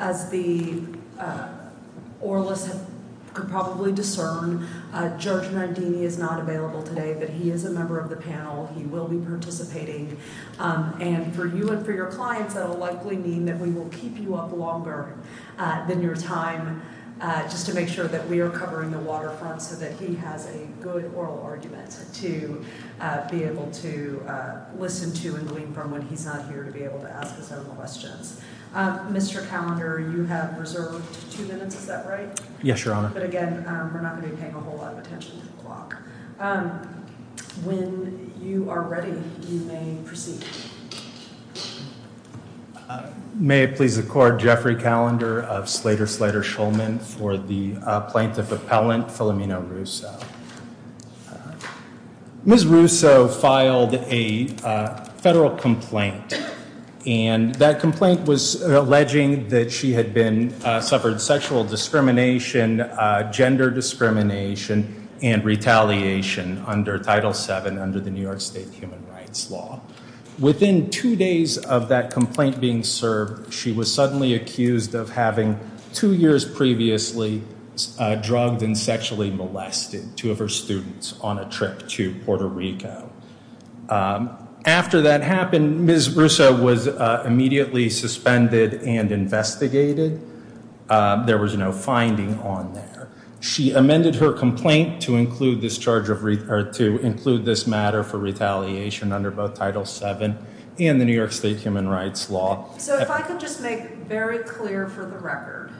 As the oralists could probably discern, George Nardini is not available today, but he is a member of the panel. He will be participating. And for you and for your clients, that will likely mean that we will keep you up longer than your time just to make sure that we are covering the waterfront so that he has a good To be able to listen to and lean from when he's not here to be able to ask his own questions. Mr. Callender, you have reserved two minutes. Is that right? Yes, Your Honor. But again, we're not going to pay a whole lot of attention to the clock. When you are ready, you may proceed. May it please the court. Jeffrey Callender of Slater-Schlatter-Schulman for the plaintiff appellant, Filomeno-Russo. Ms. Russo filed a federal complaint, and that complaint was alleging that she had been, suffered sexual discrimination, gender discrimination, and retaliation under Title VII under the New York State Human Rights Law. Within two days of that complaint being served, she was suddenly accused of having two years previously drugged and sexually molested two of her students on a trip to Puerto Rico. After that happened, Ms. Russo was immediately suspended and investigated. There was no finding on there. She amended her complaint to include this matter for retaliation under both Title VII and the New York State Human Rights Law. So if I could just make very clear for the record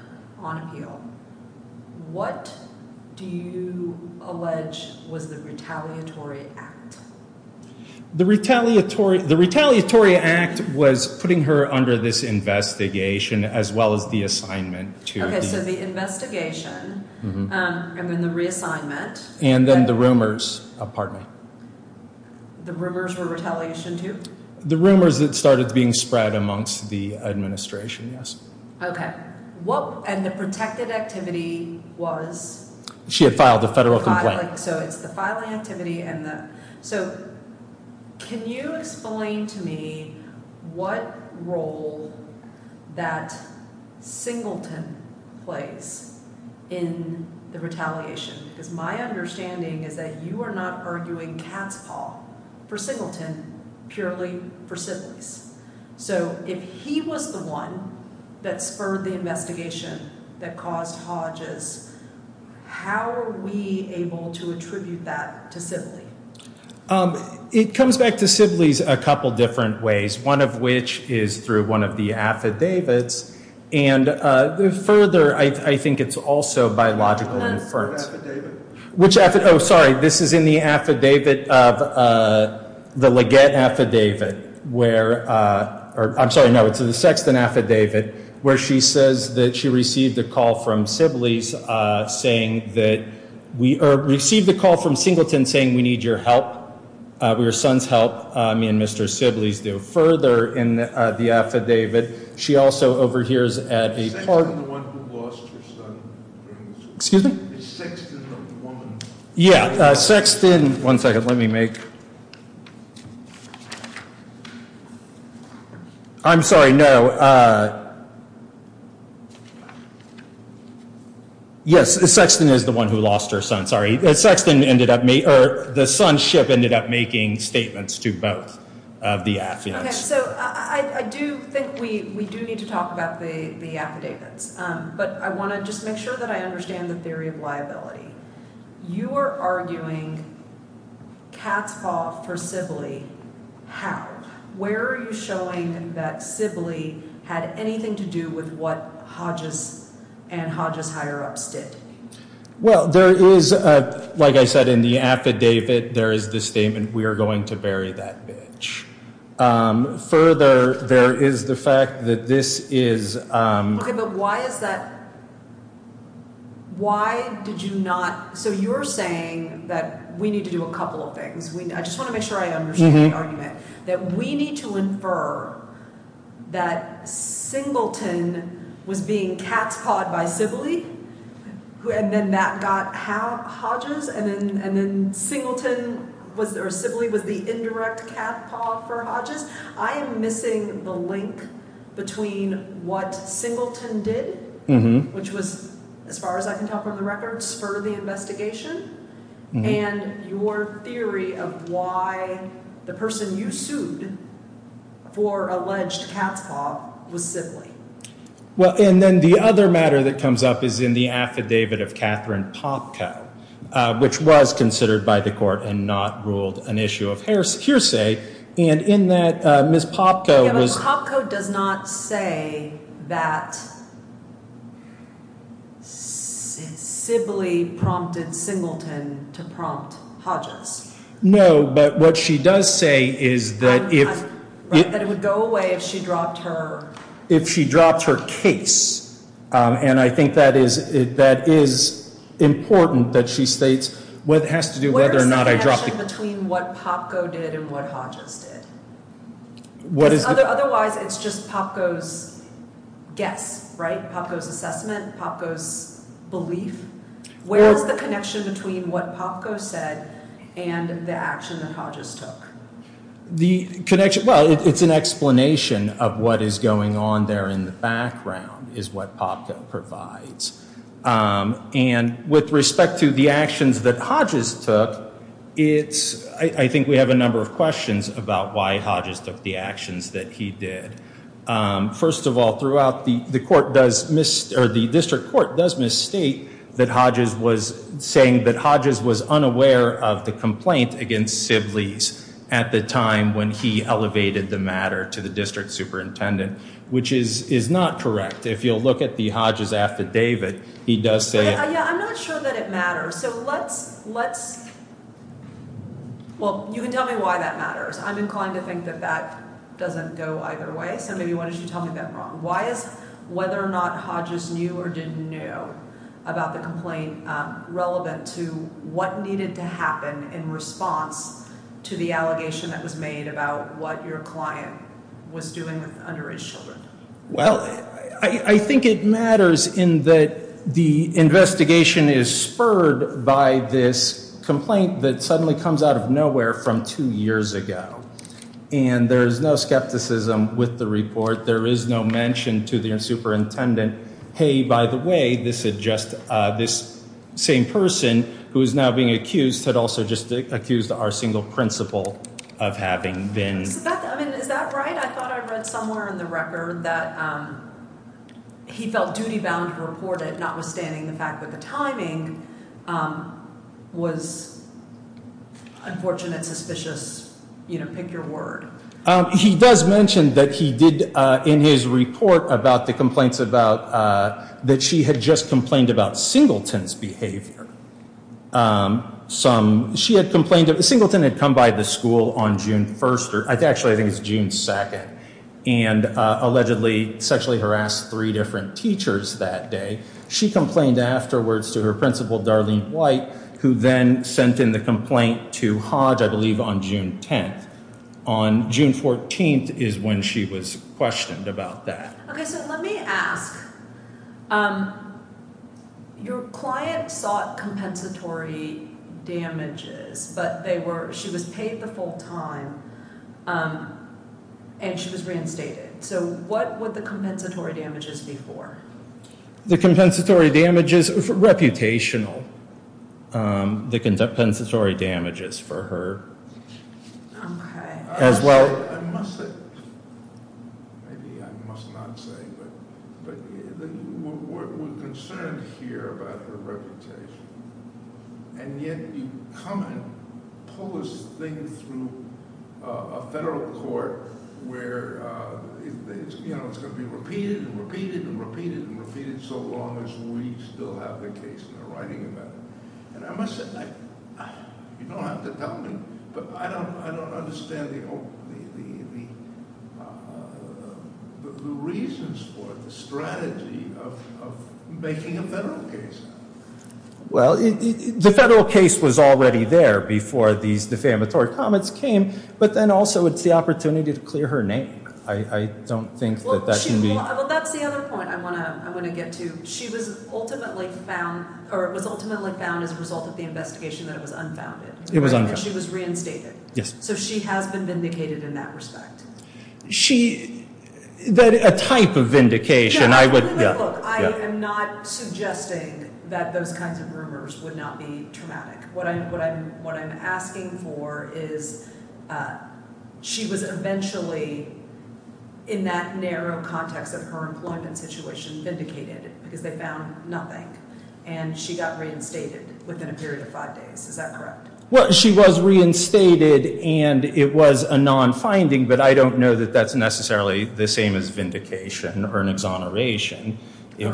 on appeal, what do you allege was the retaliatory act? The retaliatory act was putting her under this investigation as well as the assignment to the- So the investigation and then the reassignment. And then the rumors, pardon me. The rumors were retaliation to? The rumors that started being spread amongst the administration, yes. Okay. And the protected activity was? She had filed a federal complaint. So it's the filing activity and the- So can you explain to me what role that Singleton plays in the retaliation? Because my understanding is that you are not arguing cat's paw for Singleton, purely for siblings. So if he was the one that spurred the investigation that caused Hodges, how are we able to attribute that to Sibley? It comes back to Sibley's a couple different ways, one of which is through one of the affidavits. And further, I think it's also biological inference. Affidavit? Affidavit of the Leggett Affidavit, where- I'm sorry, no, it's the Sexton Affidavit, where she says that she received a call from Sibley's saying that- or received a call from Singleton saying, we need your help, your son's help. Me and Mr. Sibley's go further in the affidavit. She also overhears at a- Sexton's the one who lost her son. Excuse me? Sexton's the woman. Yeah, Sexton- one second, let me make- I'm sorry, no. Yes, Sexton is the one who lost her son, sorry. Sexton ended up- or the son's ship ended up making statements to both of the affidavits. Okay, so I do think we do need to talk about the affidavits. But I want to just make sure that I understand the theory of liability. You are arguing Katz fought for Sibley, how? Where are you showing that Sibley had anything to do with what Hodges and Hodges higher-ups did? Well, there is, like I said in the affidavit, there is the statement, we are going to bury that bitch. Further, there is the fact that this is- Okay, but why is that- why did you not- so you're saying that we need to do a couple of things. I just want to make sure I understand the argument. That we need to infer that Singleton was being cat-pawed by Sibley, and then that got Hodges, and then Sibley was the indirect cat-paw for Hodges. I am missing the link between what Singleton did, which was, as far as I can tell from the records, spur the investigation, and your theory of why the person you sued for alleged cat-paw was Sibley. Well, and then the other matter that comes up is in the affidavit of Catherine Popka, which was considered by the court and not ruled an issue of hearsay. And in that, Ms. Popka was- Yeah, but Popka does not say that Sibley prompted Singleton to prompt Hodges. No, but what she does say is that if- That it would go away if she dropped her- If she dropped her case. And I think that is important that she states what has to do with whether or not I dropped the case. What is the connection between what Popka did and what Hodges did? Otherwise, it's just Popka's guess, right? Popka's assessment? Popka's belief? Where is the connection between what Popka said and the action that Hodges took? Well, it's an explanation of what is going on there in the background is what Popka provides. And with respect to the actions that Hodges took, I think we have a number of questions about why Hodges took the actions that he did. First of all, the district court does misstate that Hodges was saying that Hodges was unaware of the complaint against Sibley's at the time when he elevated the matter to the district superintendent, which is not correct. If you'll look at the Hodges affidavit, he does say- Yeah, I'm not sure that it matters. So let's- Well, you can tell me why that matters. I'm inclined to think that that doesn't go either way. So maybe why don't you tell me that wrong. Why is whether or not Hodges knew or didn't know about the complaint relevant to what needed to happen in response to the allegation that was made about what your client was doing with underage children? Well, I think it matters in that the investigation is spurred by this complaint that suddenly comes out of nowhere from two years ago. And there is no skepticism with the report. There is no mention to the superintendent. Hey, by the way, this is just this same person who is now being accused had also just accused our single principal of having been- that he felt duty bound to report it, notwithstanding the fact that the timing was unfortunate, suspicious. Pick your word. He does mention that he did in his report about the complaints about that she had just complained about Singleton's behavior. She had complained that Singleton had come by the school on June 1st or actually I think it's June 2nd and allegedly sexually harassed three different teachers that day. She complained afterwards to her principal, Darlene White, who then sent in the complaint to Hodge, I believe, on June 10th. On June 14th is when she was questioned about that. OK, so let me ask. Your client sought compensatory damages, but they were- she was paid the full time and she was reinstated. So what would the compensatory damages be for? The compensatory damages, reputational. The compensatory damages for her as well. I must say, maybe I must not say, but we're concerned here about her reputation. And yet you come and pull this thing through a federal court where, you know, it's going to be repeated and repeated and repeated and repeated so long as we still have the case in the writing about it. You don't have to tell me, but I don't understand the reasons for it, the strategy of making a federal case. Well, the federal case was already there before these defamatory comments came, but then also it's the opportunity to clear her name. I don't think that that can be- Well, that's the other point I want to get to. She was ultimately found- or it was ultimately found as a result of the investigation that it was unfounded. It was unfounded. And she was reinstated. Yes. So she has been vindicated in that respect. Look, I am not suggesting that those kinds of rumors would not be traumatic. What I'm asking for is she was eventually, in that narrow context of her employment situation, vindicated because they found nothing. And she got reinstated within a period of five days. Is that correct? Well, she was reinstated and it was a non-finding, but I don't know that that's necessarily the same as vindication or an exoneration. You've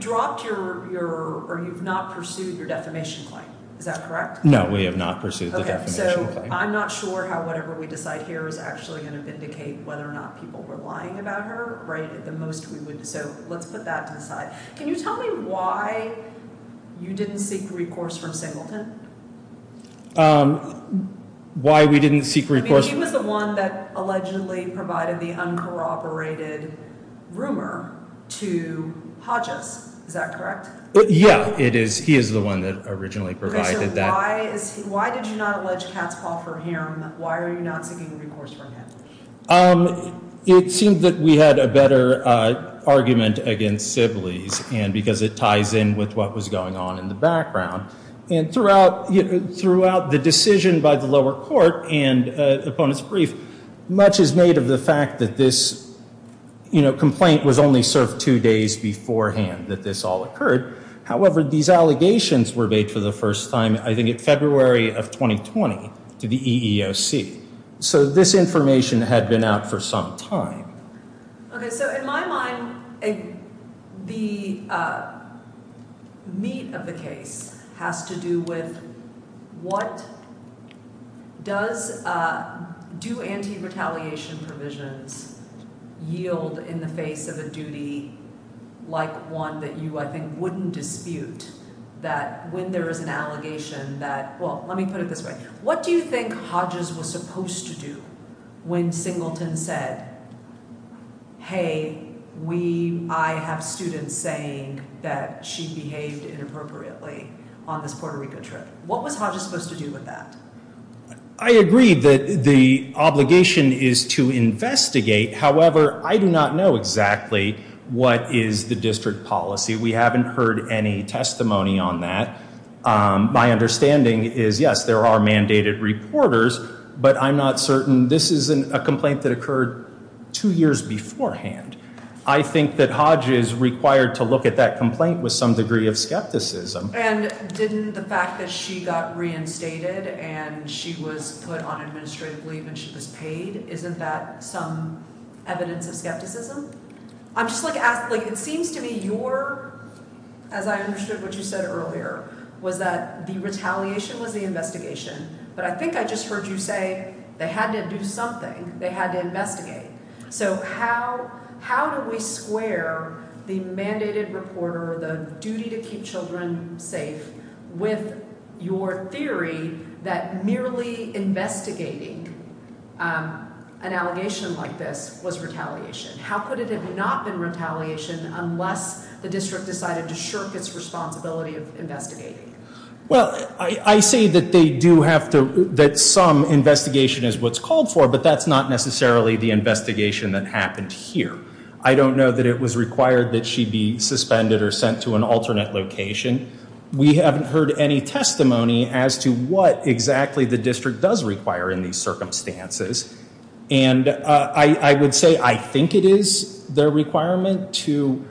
dropped your- or you've not pursued your defamation claim. Is that correct? No, we have not pursued the defamation claim. Okay, so I'm not sure how whatever we decide here is actually going to vindicate whether or not people were lying about her, right? So let's put that to the side. Can you tell me why you didn't seek recourse from Singleton? Why we didn't seek recourse- I mean, he was the one that allegedly provided the uncorroborated rumor to Hodges. Is that correct? Yeah, it is. He is the one that originally provided that. Okay, so why did you not allege Catspaw for him? Why are you not seeking recourse from him? It seemed that we had a better argument against Sibley's because it ties in with what was going on in the background. And throughout the decision by the lower court and opponents' brief, much is made of the fact that this complaint was only served two days beforehand that this all occurred. However, these allegations were made for the first time I think in February of 2020 to the EEOC. So this information had been out for some time. Okay, so in my mind, the meat of the case has to do with what does- do anti-retaliation provisions yield in the face of a duty like one that you, I think, wouldn't dispute? That when there is an allegation that- well, let me put it this way. What do you think Hodges was supposed to do when Singleton said, hey, we- I have students saying that she behaved inappropriately on this Puerto Rico trip? What was Hodges supposed to do with that? I agree that the obligation is to investigate. However, I do not know exactly what is the district policy. We haven't heard any testimony on that. My understanding is, yes, there are mandated reporters, but I'm not certain- this is a complaint that occurred two years beforehand. I think that Hodges required to look at that complaint with some degree of skepticism. And didn't the fact that she got reinstated and she was put on administrative leave and she was paid, isn't that some evidence of skepticism? It seems to me your- as I understood what you said earlier, was that the retaliation was the investigation. But I think I just heard you say they had to do something. They had to investigate. So how do we square the mandated reporter, the duty to keep children safe, with your theory that merely investigating an allegation like this was retaliation? How could it have not been retaliation unless the district decided to shirk its responsibility of investigating? Well, I say that they do have to- that some investigation is what's called for, but that's not necessarily the investigation that happened here. I don't know that it was required that she be suspended or sent to an alternate location. We haven't heard any testimony as to what exactly the district does require in these circumstances. And I would say I think it is their requirement to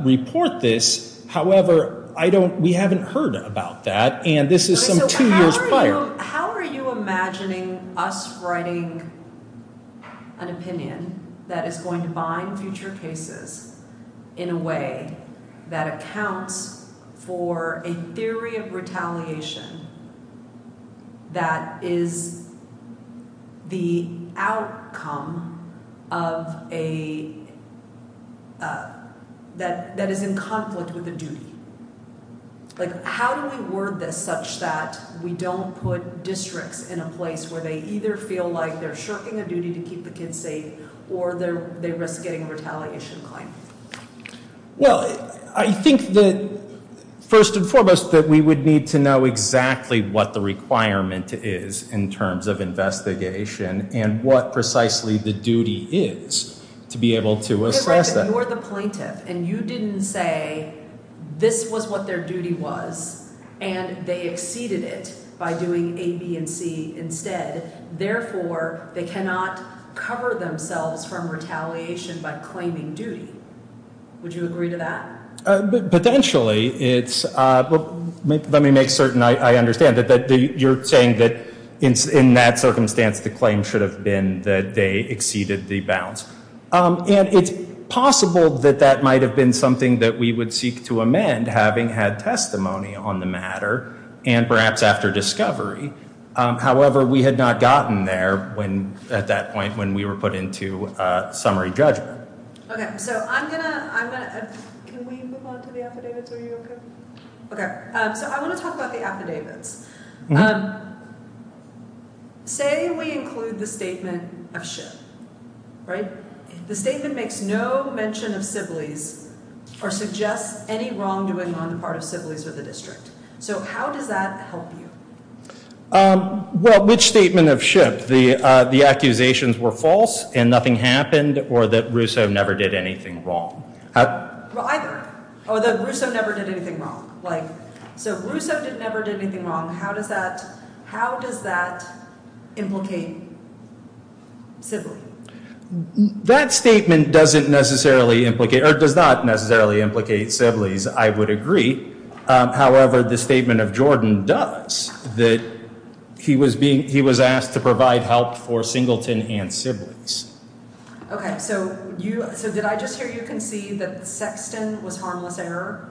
report this. However, I don't- we haven't heard about that. And this is some two years prior. How are you imagining us writing an opinion that is going to bind future cases in a way that accounts for a theory of retaliation that is the outcome of a- that is in conflict with a duty? Like, how do we word this such that we don't put districts in a place where they either feel like they're shirking a duty to keep the kids safe or they risk getting a retaliation claim? Well, I think that first and foremost that we would need to know exactly what the requirement is in terms of investigation and what precisely the duty is to be able to assess that. So you're the plaintiff, and you didn't say this was what their duty was, and they exceeded it by doing A, B, and C instead. Therefore, they cannot cover themselves from retaliation by claiming duty. Would you agree to that? Potentially. It's- let me make certain I understand that you're saying that in that circumstance, the claim should have been that they exceeded the bounds. And it's possible that that might have been something that we would seek to amend, having had testimony on the matter and perhaps after discovery. However, we had not gotten there when- at that point when we were put into summary judgment. Okay, so I'm going to- I'm going to- can we move on to the affidavits? Are you okay? Okay, so I want to talk about the affidavits. Say we include the statement of Shipp, right? The statement makes no mention of Sibley's or suggests any wrongdoing on the part of Sibley's or the district. So how does that help you? Well, which statement of Shipp? The accusations were false and nothing happened or that Russo never did anything wrong? Well, either. Or that Russo never did anything wrong. So Russo never did anything wrong. How does that- how does that implicate Sibley? That statement doesn't necessarily implicate- or does not necessarily implicate Sibley's, I would agree. However, the statement of Jordan does, that he was being- he was asked to provide help for Singleton and Sibley's. Okay, so you- so did I just hear you concede that Sexton was harmless error?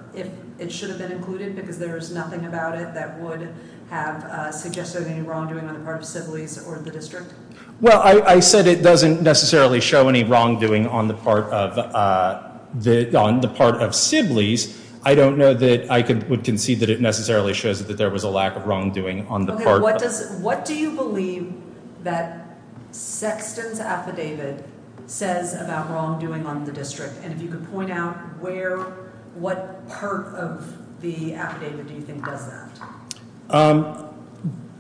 It should have been included because there is nothing about it that would have suggested any wrongdoing on the part of Sibley's or the district? Well, I said it doesn't necessarily show any wrongdoing on the part of Sibley's. I don't know that I would concede that it necessarily shows that there was a lack of wrongdoing on the part of- What does- what do you believe that Sexton's affidavit says about wrongdoing on the district? And if you could point out where- what part of the affidavit do you think does that?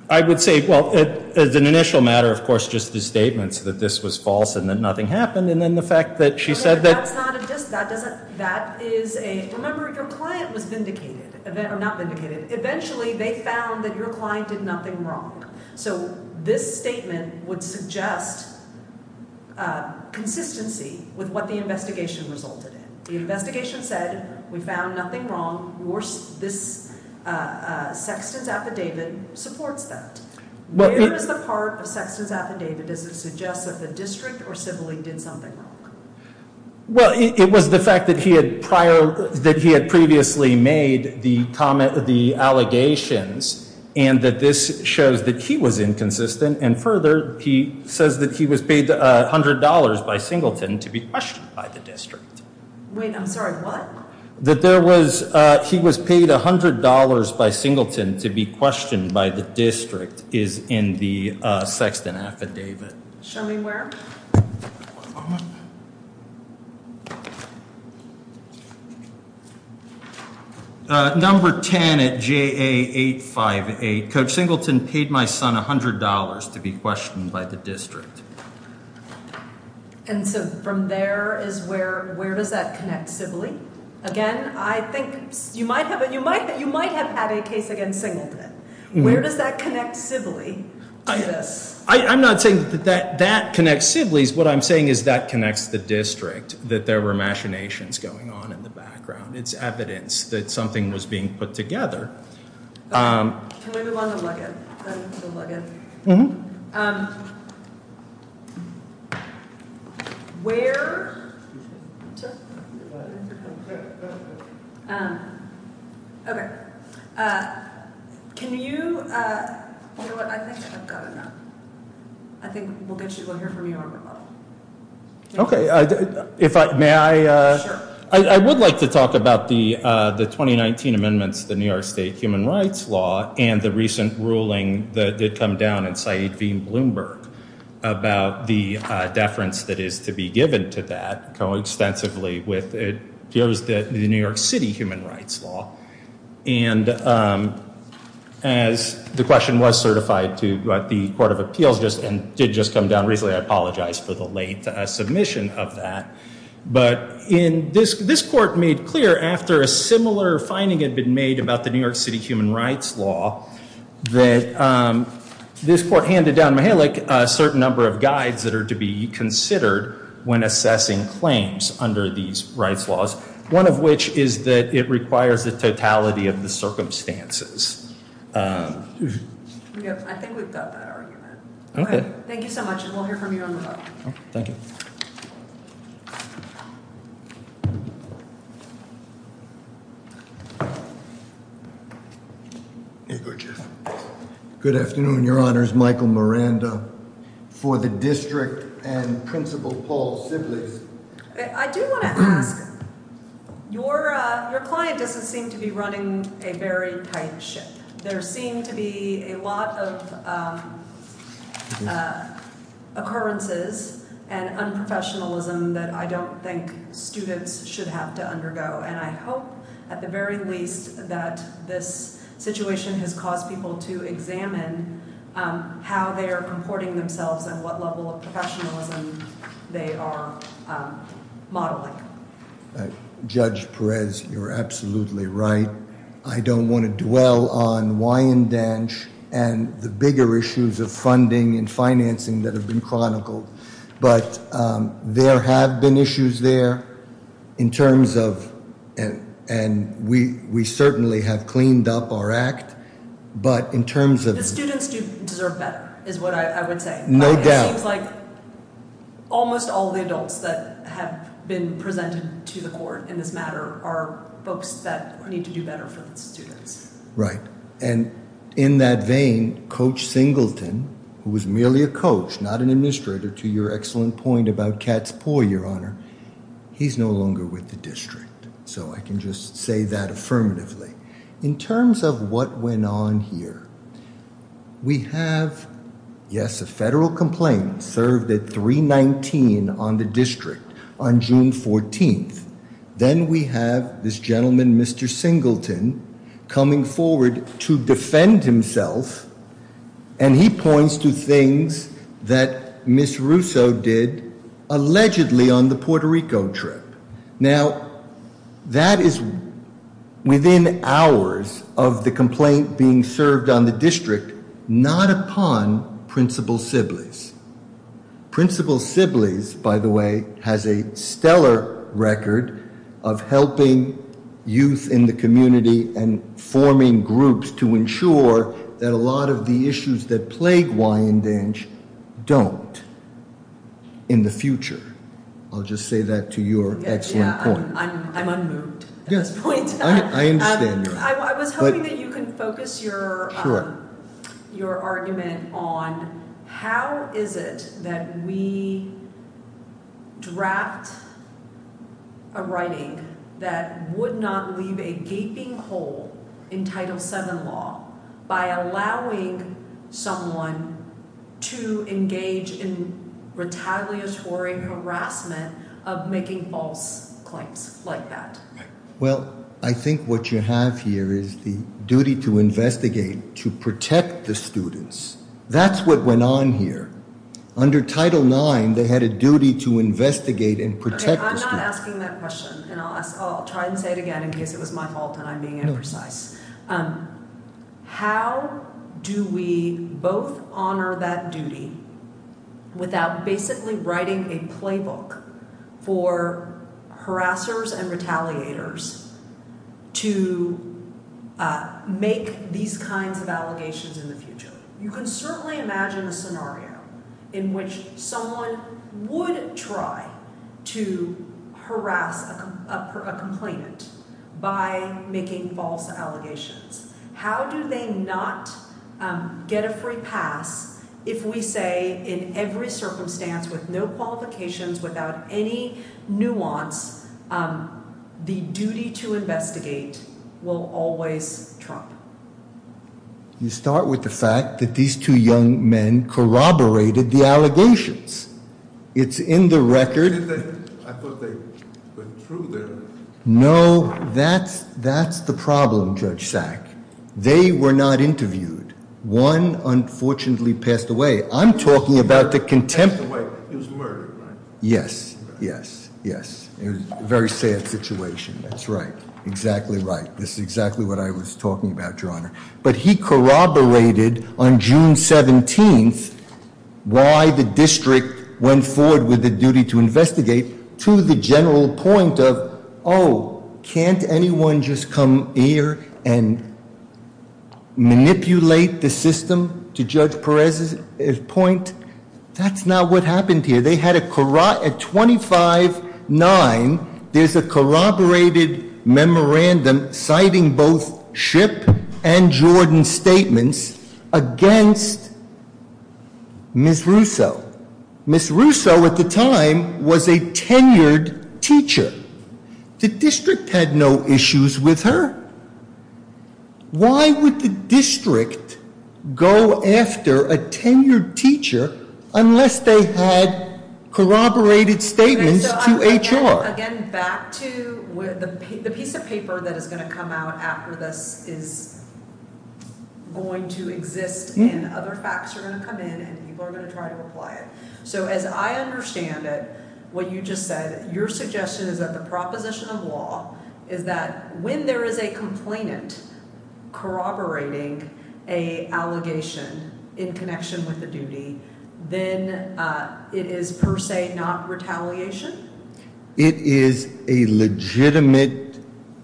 I would say, well, as an initial matter, of course, just the statements that this was false and that nothing happened. And then the fact that she said that- That is a- remember, your client was vindicated- or not vindicated. Eventually, they found that your client did nothing wrong. So this statement would suggest consistency with what the investigation resulted in. The investigation said, we found nothing wrong. This Sexton's affidavit supports that. Where is the part of Sexton's affidavit that suggests that the district or Sibley did something wrong? Well, it was the fact that he had prior- that he had previously made the allegations and that this shows that he was inconsistent. And further, he says that he was paid $100 by Singleton to be questioned by the district. Wait, I'm sorry. What? That there was- he was paid $100 by Singleton to be questioned by the district is in the Sexton affidavit. Show me where. Number 10 at JA858. Coach Singleton paid my son $100 to be questioned by the district. And so from there is where- where does that connect Sibley? Again, I think you might have- you might have had a case against Singleton. Where does that connect Sibley to this? I'm not saying that that connects Sibley's. What I'm saying is that connects the district, that there were machinations going on in the background. It's evidence that something was being put together. Can we move on to Luggin? The Luggin. Mm-hmm. Where- Okay. Can you- You know what, I think I've got enough. I think we'll get you- we'll hear from you on the phone. Okay. If I- may I- Sure. I would like to talk about the 2019 amendments, the New York State human rights law, and the recent ruling that did come down in Saeed V. Bloomberg about the deference that is to be given to that, co-extensively with it- the New York City human rights law. And as the question was certified to the Court of Appeals and did just come down recently, I apologize for the late submission of that. But this court made clear, after a similar finding had been made about the New York City human rights law, that this court handed down Mihalik a certain number of guides that are to be considered when assessing claims under these rights laws. One of which is that it requires the totality of the circumstances. Yep, I think we've got that argument. Okay. Thank you so much, and we'll hear from you on the phone. Thank you. Here you go, Jeff. Good afternoon, Your Honors. Michael Miranda for the District and Principal Paul Sibleys. I do want to ask, your client doesn't seem to be running a very tight ship. There seem to be a lot of occurrences and unprofessionalism that I don't think students should have to undergo. And I hope, at the very least, that this situation has caused people to examine how they are comporting themselves and what level of professionalism they are modeling. Judge Perez, you're absolutely right. I don't want to dwell on Wyandanch and the bigger issues of funding and financing that have been chronicled. But there have been issues there in terms of, and we certainly have cleaned up our act. But in terms of- The students do deserve better, is what I would say. No doubt. It seems like almost all the adults that have been presented to the court in this matter are folks that need to do better for the students. Right. And in that vein, Coach Singleton, who was merely a coach, not an administrator, to your excellent point about Katz-Poe, Your Honor, he's no longer with the District. So I can just say that affirmatively. In terms of what went on here, we have, yes, a federal complaint served at 319 on the District on June 14th. Then we have this gentleman, Mr. Singleton, coming forward to defend himself. And he points to things that Ms. Russo did allegedly on the Puerto Rico trip. Now, that is within hours of the complaint being served on the District, not upon Principal Sibleys. Principal Sibleys, by the way, has a stellar record of helping youth in the community and forming groups to ensure that a lot of the issues that plague Wyandenge don't in the future. I'll just say that to your excellent point. Yeah, I'm unmoved at this point. Yes, I understand. I was hoping that you can focus your argument on how is it that we draft a writing that would not leave a gaping hole in Title VII law by allowing someone to engage in retaliatory harassment of making false claims like that? Well, I think what you have here is the duty to investigate, to protect the students. That's what went on here. Under Title IX, they had a duty to investigate and protect the students. I'm not asking that question. And I'll try and say it again in case it was my fault and I'm being imprecise. How do we both honor that duty without basically writing a playbook for harassers and retaliators to make these kinds of allegations in the future? You can certainly imagine a scenario in which someone would try to harass a complainant by making false allegations. How do they not get a free pass if we say in every circumstance with no qualifications, without any nuance, the duty to investigate will always trump? You start with the fact that these two young men corroborated the allegations. It's in the record. I thought they went through there. No. That's the problem, Judge Sack. They were not interviewed. One, unfortunately, passed away. I'm talking about the contempt. He was murdered, right? Yes. Yes. Yes. It was a very sad situation. That's right. Exactly right. This is exactly what I was talking about, Your Honor. But he corroborated on June 17th why the district went forward with the duty to investigate to the general point of, oh, can't anyone just come here and manipulate the system? To Judge Perez's point, that's not what happened here. At 25-9, there's a corroborated memorandum citing both Shipp and Jordan's statements against Ms. Russo. Ms. Russo, at the time, was a tenured teacher. The district had no issues with her. Why would the district go after a tenured teacher unless they had corroborated statements to HR? Again, back to the piece of paper that is going to come out after this is going to exist and other facts are going to come in and people are going to try to apply it. So as I understand it, what you just said, your suggestion is that the proposition of law is that when there is a complainant corroborating an allegation in connection with the duty, then it is per se not retaliation? It is a legitimate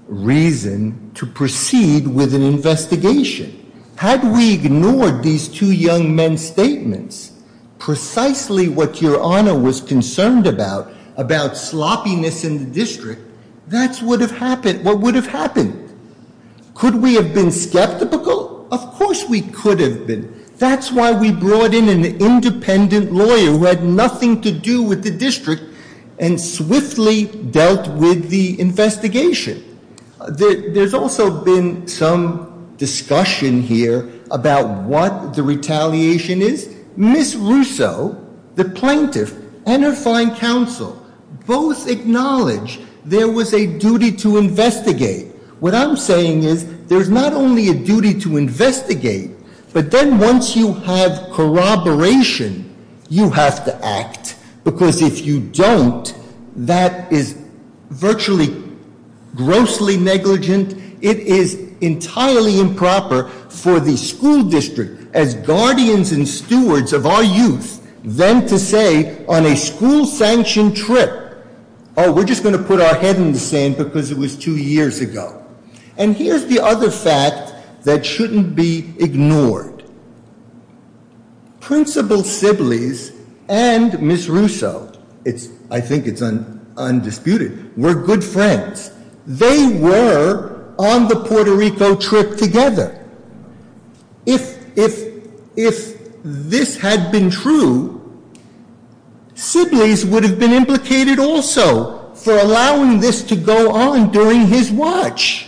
reason to proceed with an investigation. Had we ignored these two young men's statements, precisely what Your Honor was concerned about, about sloppiness in the district, that's what would have happened. Could we have been skeptical? Of course we could have been. That's why we brought in an independent lawyer who had nothing to do with the district and swiftly dealt with the investigation. There's also been some discussion here about what the retaliation is. Ms. Russo, the plaintiff, and her fine counsel both acknowledge there was a duty to investigate. What I'm saying is there's not only a duty to investigate, but then once you have corroboration, you have to act. Because if you don't, that is virtually grossly negligent. It is entirely improper for the school district, as guardians and stewards of our youth, then to say on a school-sanctioned trip, we're just going to put our head in the sand because it was two years ago. And here's the other fact that shouldn't be ignored. Principal Sibleys and Ms. Russo, I think it's undisputed, were good friends. They were on the Puerto Rico trip together. If this had been true, Sibleys would have been implicated also for allowing this to go on during his watch.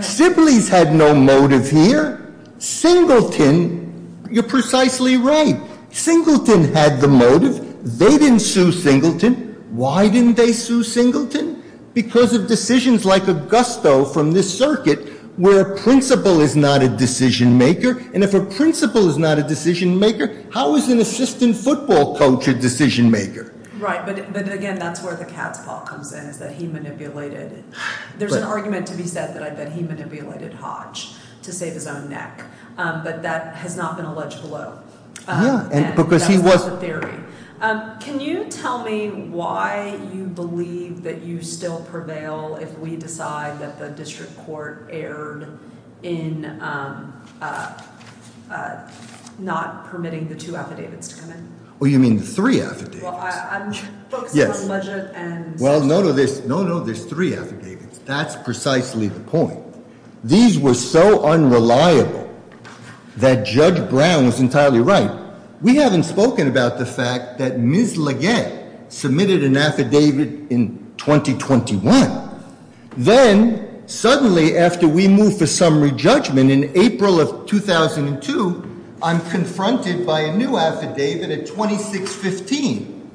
Sibleys had no motive here. Singleton, you're precisely right. Singleton had the motive. They didn't sue Singleton. Why didn't they sue Singleton? Because of decisions like Augusto from this circuit, where a principal is not a decision maker. And if a principal is not a decision maker, how is an assistant football coach a decision maker? Right, but again, that's where the cat's paw comes in, is that he manipulated. There's an argument to be said that I bet he manipulated Hodge to save his own neck. But that has not been alleged below. And that's not the theory. Can you tell me why you believe that you still prevail if we decide that the district court erred in not permitting the two affidavits to come in? Oh, you mean the three affidavits? Well, I'm focused on budget and- Well, no, no, there's three affidavits. That's precisely the point. These were so unreliable that Judge Brown was entirely right. We haven't spoken about the fact that Ms. LeGette submitted an affidavit in 2021. Then, suddenly, after we move to summary judgment in April of 2002, I'm confronted by a new affidavit at 2615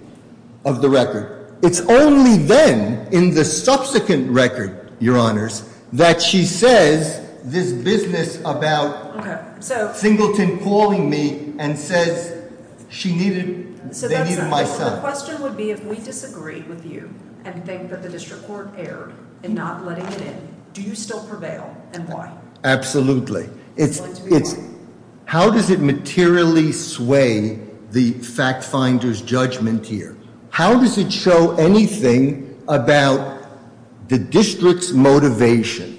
of the record. It's only then, in the subsequent record, Your Honors, that she says this business about Singleton calling me and says she needed, they needed my son. My question would be if we disagree with you and think that the district court erred in not letting it in, do you still prevail, and why? Absolutely. How does it materially sway the fact finder's judgment here? How does it show anything about the district's motivation?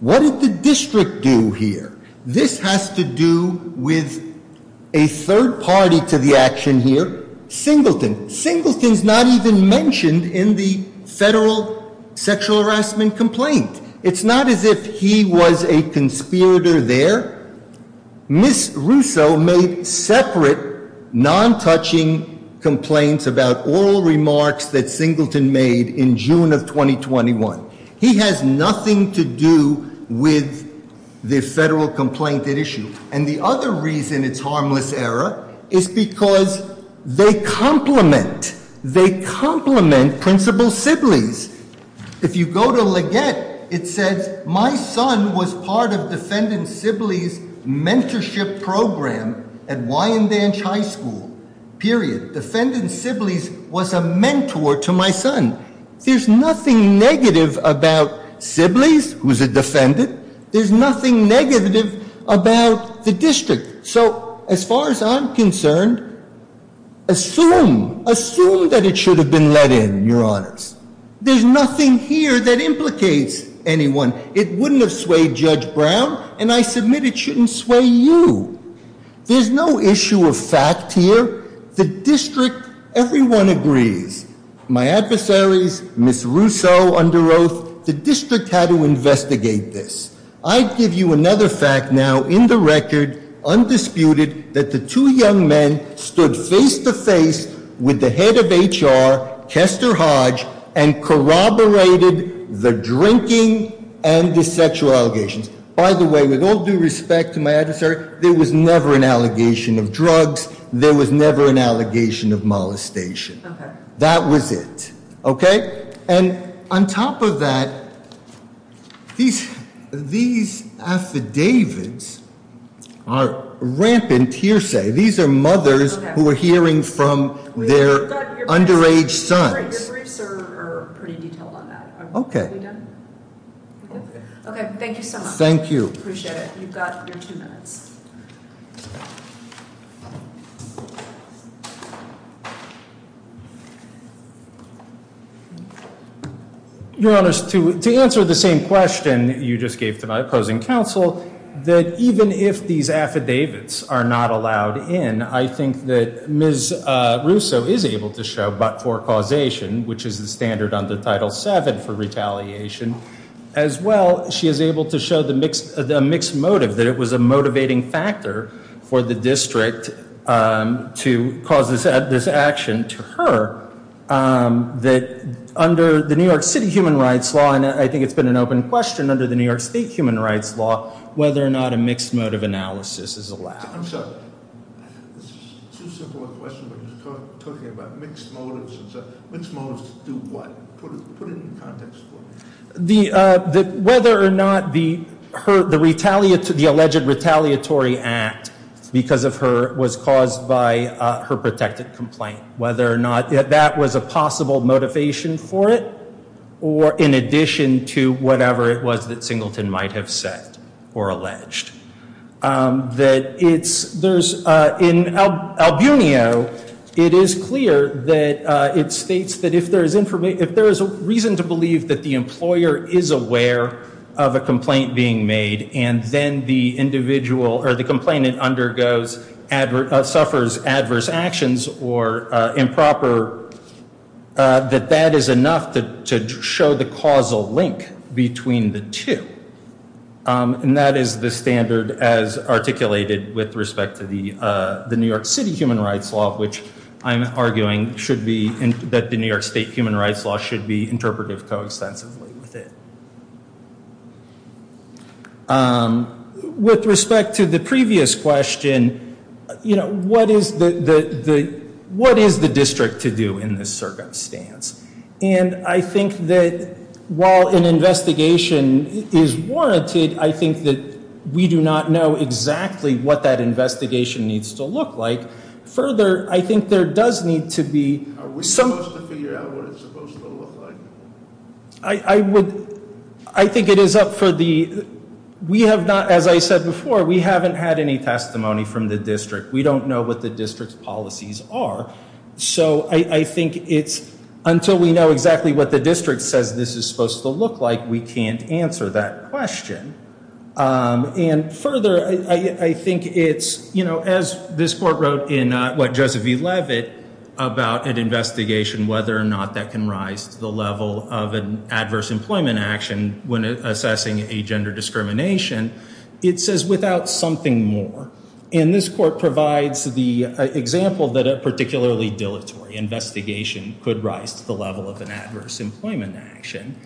What did the district do here? This has to do with a third party to the action here, Singleton. Singleton's not even mentioned in the federal sexual harassment complaint. It's not as if he was a conspirator there. Ms. Russo made separate, non-touching complaints about oral remarks that Singleton made in June of 2021. He has nothing to do with the federal complaint at issue. And the other reason it's harmless error is because they complement. They complement Principal Sibley's. If you go to Leggett, it says my son was part of Defendant Sibley's mentorship program at Wyandanch High School, period. Defendant Sibley's was a mentor to my son. There's nothing negative about Sibley's, who's a defendant. There's nothing negative about the district. So as far as I'm concerned, assume, assume that it should have been let in, Your Honors. There's nothing here that implicates anyone. It wouldn't have swayed Judge Brown, and I submit it shouldn't sway you. There's no issue of fact here. The district, everyone agrees. My adversaries, Ms. Russo under oath, the district had to investigate this. I give you another fact now in the record, undisputed, that the two young men stood face to face with the head of HR, Kester Hodge, and corroborated the drinking and the sexual allegations. By the way, with all due respect to my adversary, there was never an allegation of drugs. There was never an allegation of molestation. That was it, okay? And on top of that, these affidavits are rampant hearsay. These are mothers who are hearing from their underage sons. Your briefs are pretty detailed on that. Okay. Are we done? Okay. Okay, thank you so much. Thank you. Appreciate it. You've got your two minutes. Your Honor, to answer the same question you just gave to my opposing counsel, that even if these affidavits are not allowed in, I think that Ms. Russo is able to show but for causation, which is the standard under Title VII for retaliation. As well, she is able to show a mixed motive, that it was a motivating factor for the district to cause this action to her. That under the New York City Human Rights Law, and I think it's been an open question under the New York State Human Rights Law, whether or not a mixed motive analysis is allowed. I'm sorry. This is too simple a question, but you're talking about mixed motives. Mixed motives do what? Put it in context for me. Whether or not the alleged retaliatory act because of her was caused by her protected complaint, whether or not that was a possible motivation for it, or in addition to whatever it was that Singleton might have said or alleged. In Albunio, it is clear that it states that if there is a reason to believe that the employer is aware of a complaint being made, and then the complainant suffers adverse actions or improper, that that is enough to show the causal link between the two. And that is the standard as articulated with respect to the New York City Human Rights Law, which I'm arguing that the New York State Human Rights Law should be interpreted coextensively with it. With respect to the previous question, what is the district to do in this circumstance? And I think that while an investigation is warranted, I think that we do not know exactly what that investigation needs to look like. Further, I think there does need to be some. Are we supposed to figure out what it's supposed to look like? I think it is up for the. We have not, as I said before, we haven't had any testimony from the district. We don't know what the district's policies are. So I think it's until we know exactly what the district says this is supposed to look like, we can't answer that question. And further, I think it's, you know, as this court wrote in what Josephine Levitt about an investigation, whether or not that can rise to the level of an adverse employment action when assessing a gender discrimination, it says without something more. And this court provides the example that a particularly dilatory investigation could rise to the level of an adverse employment action.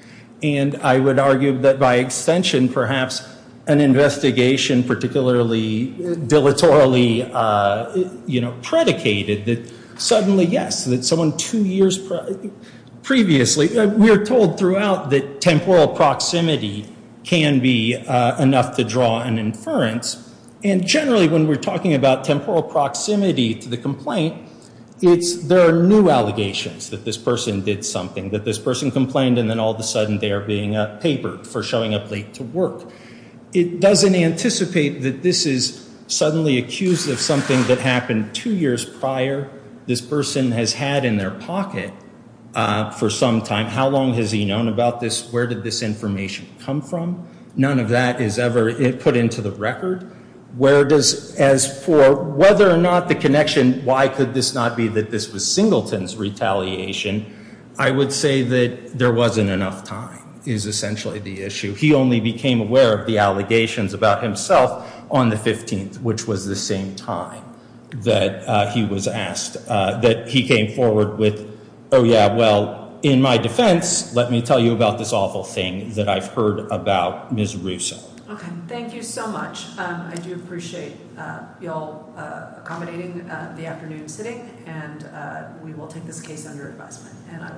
And I would argue that by extension, perhaps an investigation, particularly dilatorily, you know, predicated that suddenly, yes, that someone two years previously, we are told throughout that temporal proximity can be enough to draw an inference. And generally, when we're talking about temporal proximity to the complaint, it's there are new allegations that this person did something, that this person complained, and then all of a sudden they are being papered for showing up late to work. It doesn't anticipate that this is suddenly accused of something that happened two years prior. This person has had in their pocket for some time. How long has he known about this? Where did this information come from? None of that is ever put into the record. Where does, as for whether or not the connection, why could this not be that this was Singleton's retaliation, I would say that there wasn't enough time is essentially the issue. He only became aware of the allegations about himself on the 15th, which was the same time that he was asked, that he came forward with, oh, yeah, well, in my defense, let me tell you about this awful thing that I've heard about Ms. Russo. Okay. Thank you so much. I do appreciate you all accommodating the afternoon sitting, and we will take this case under investment.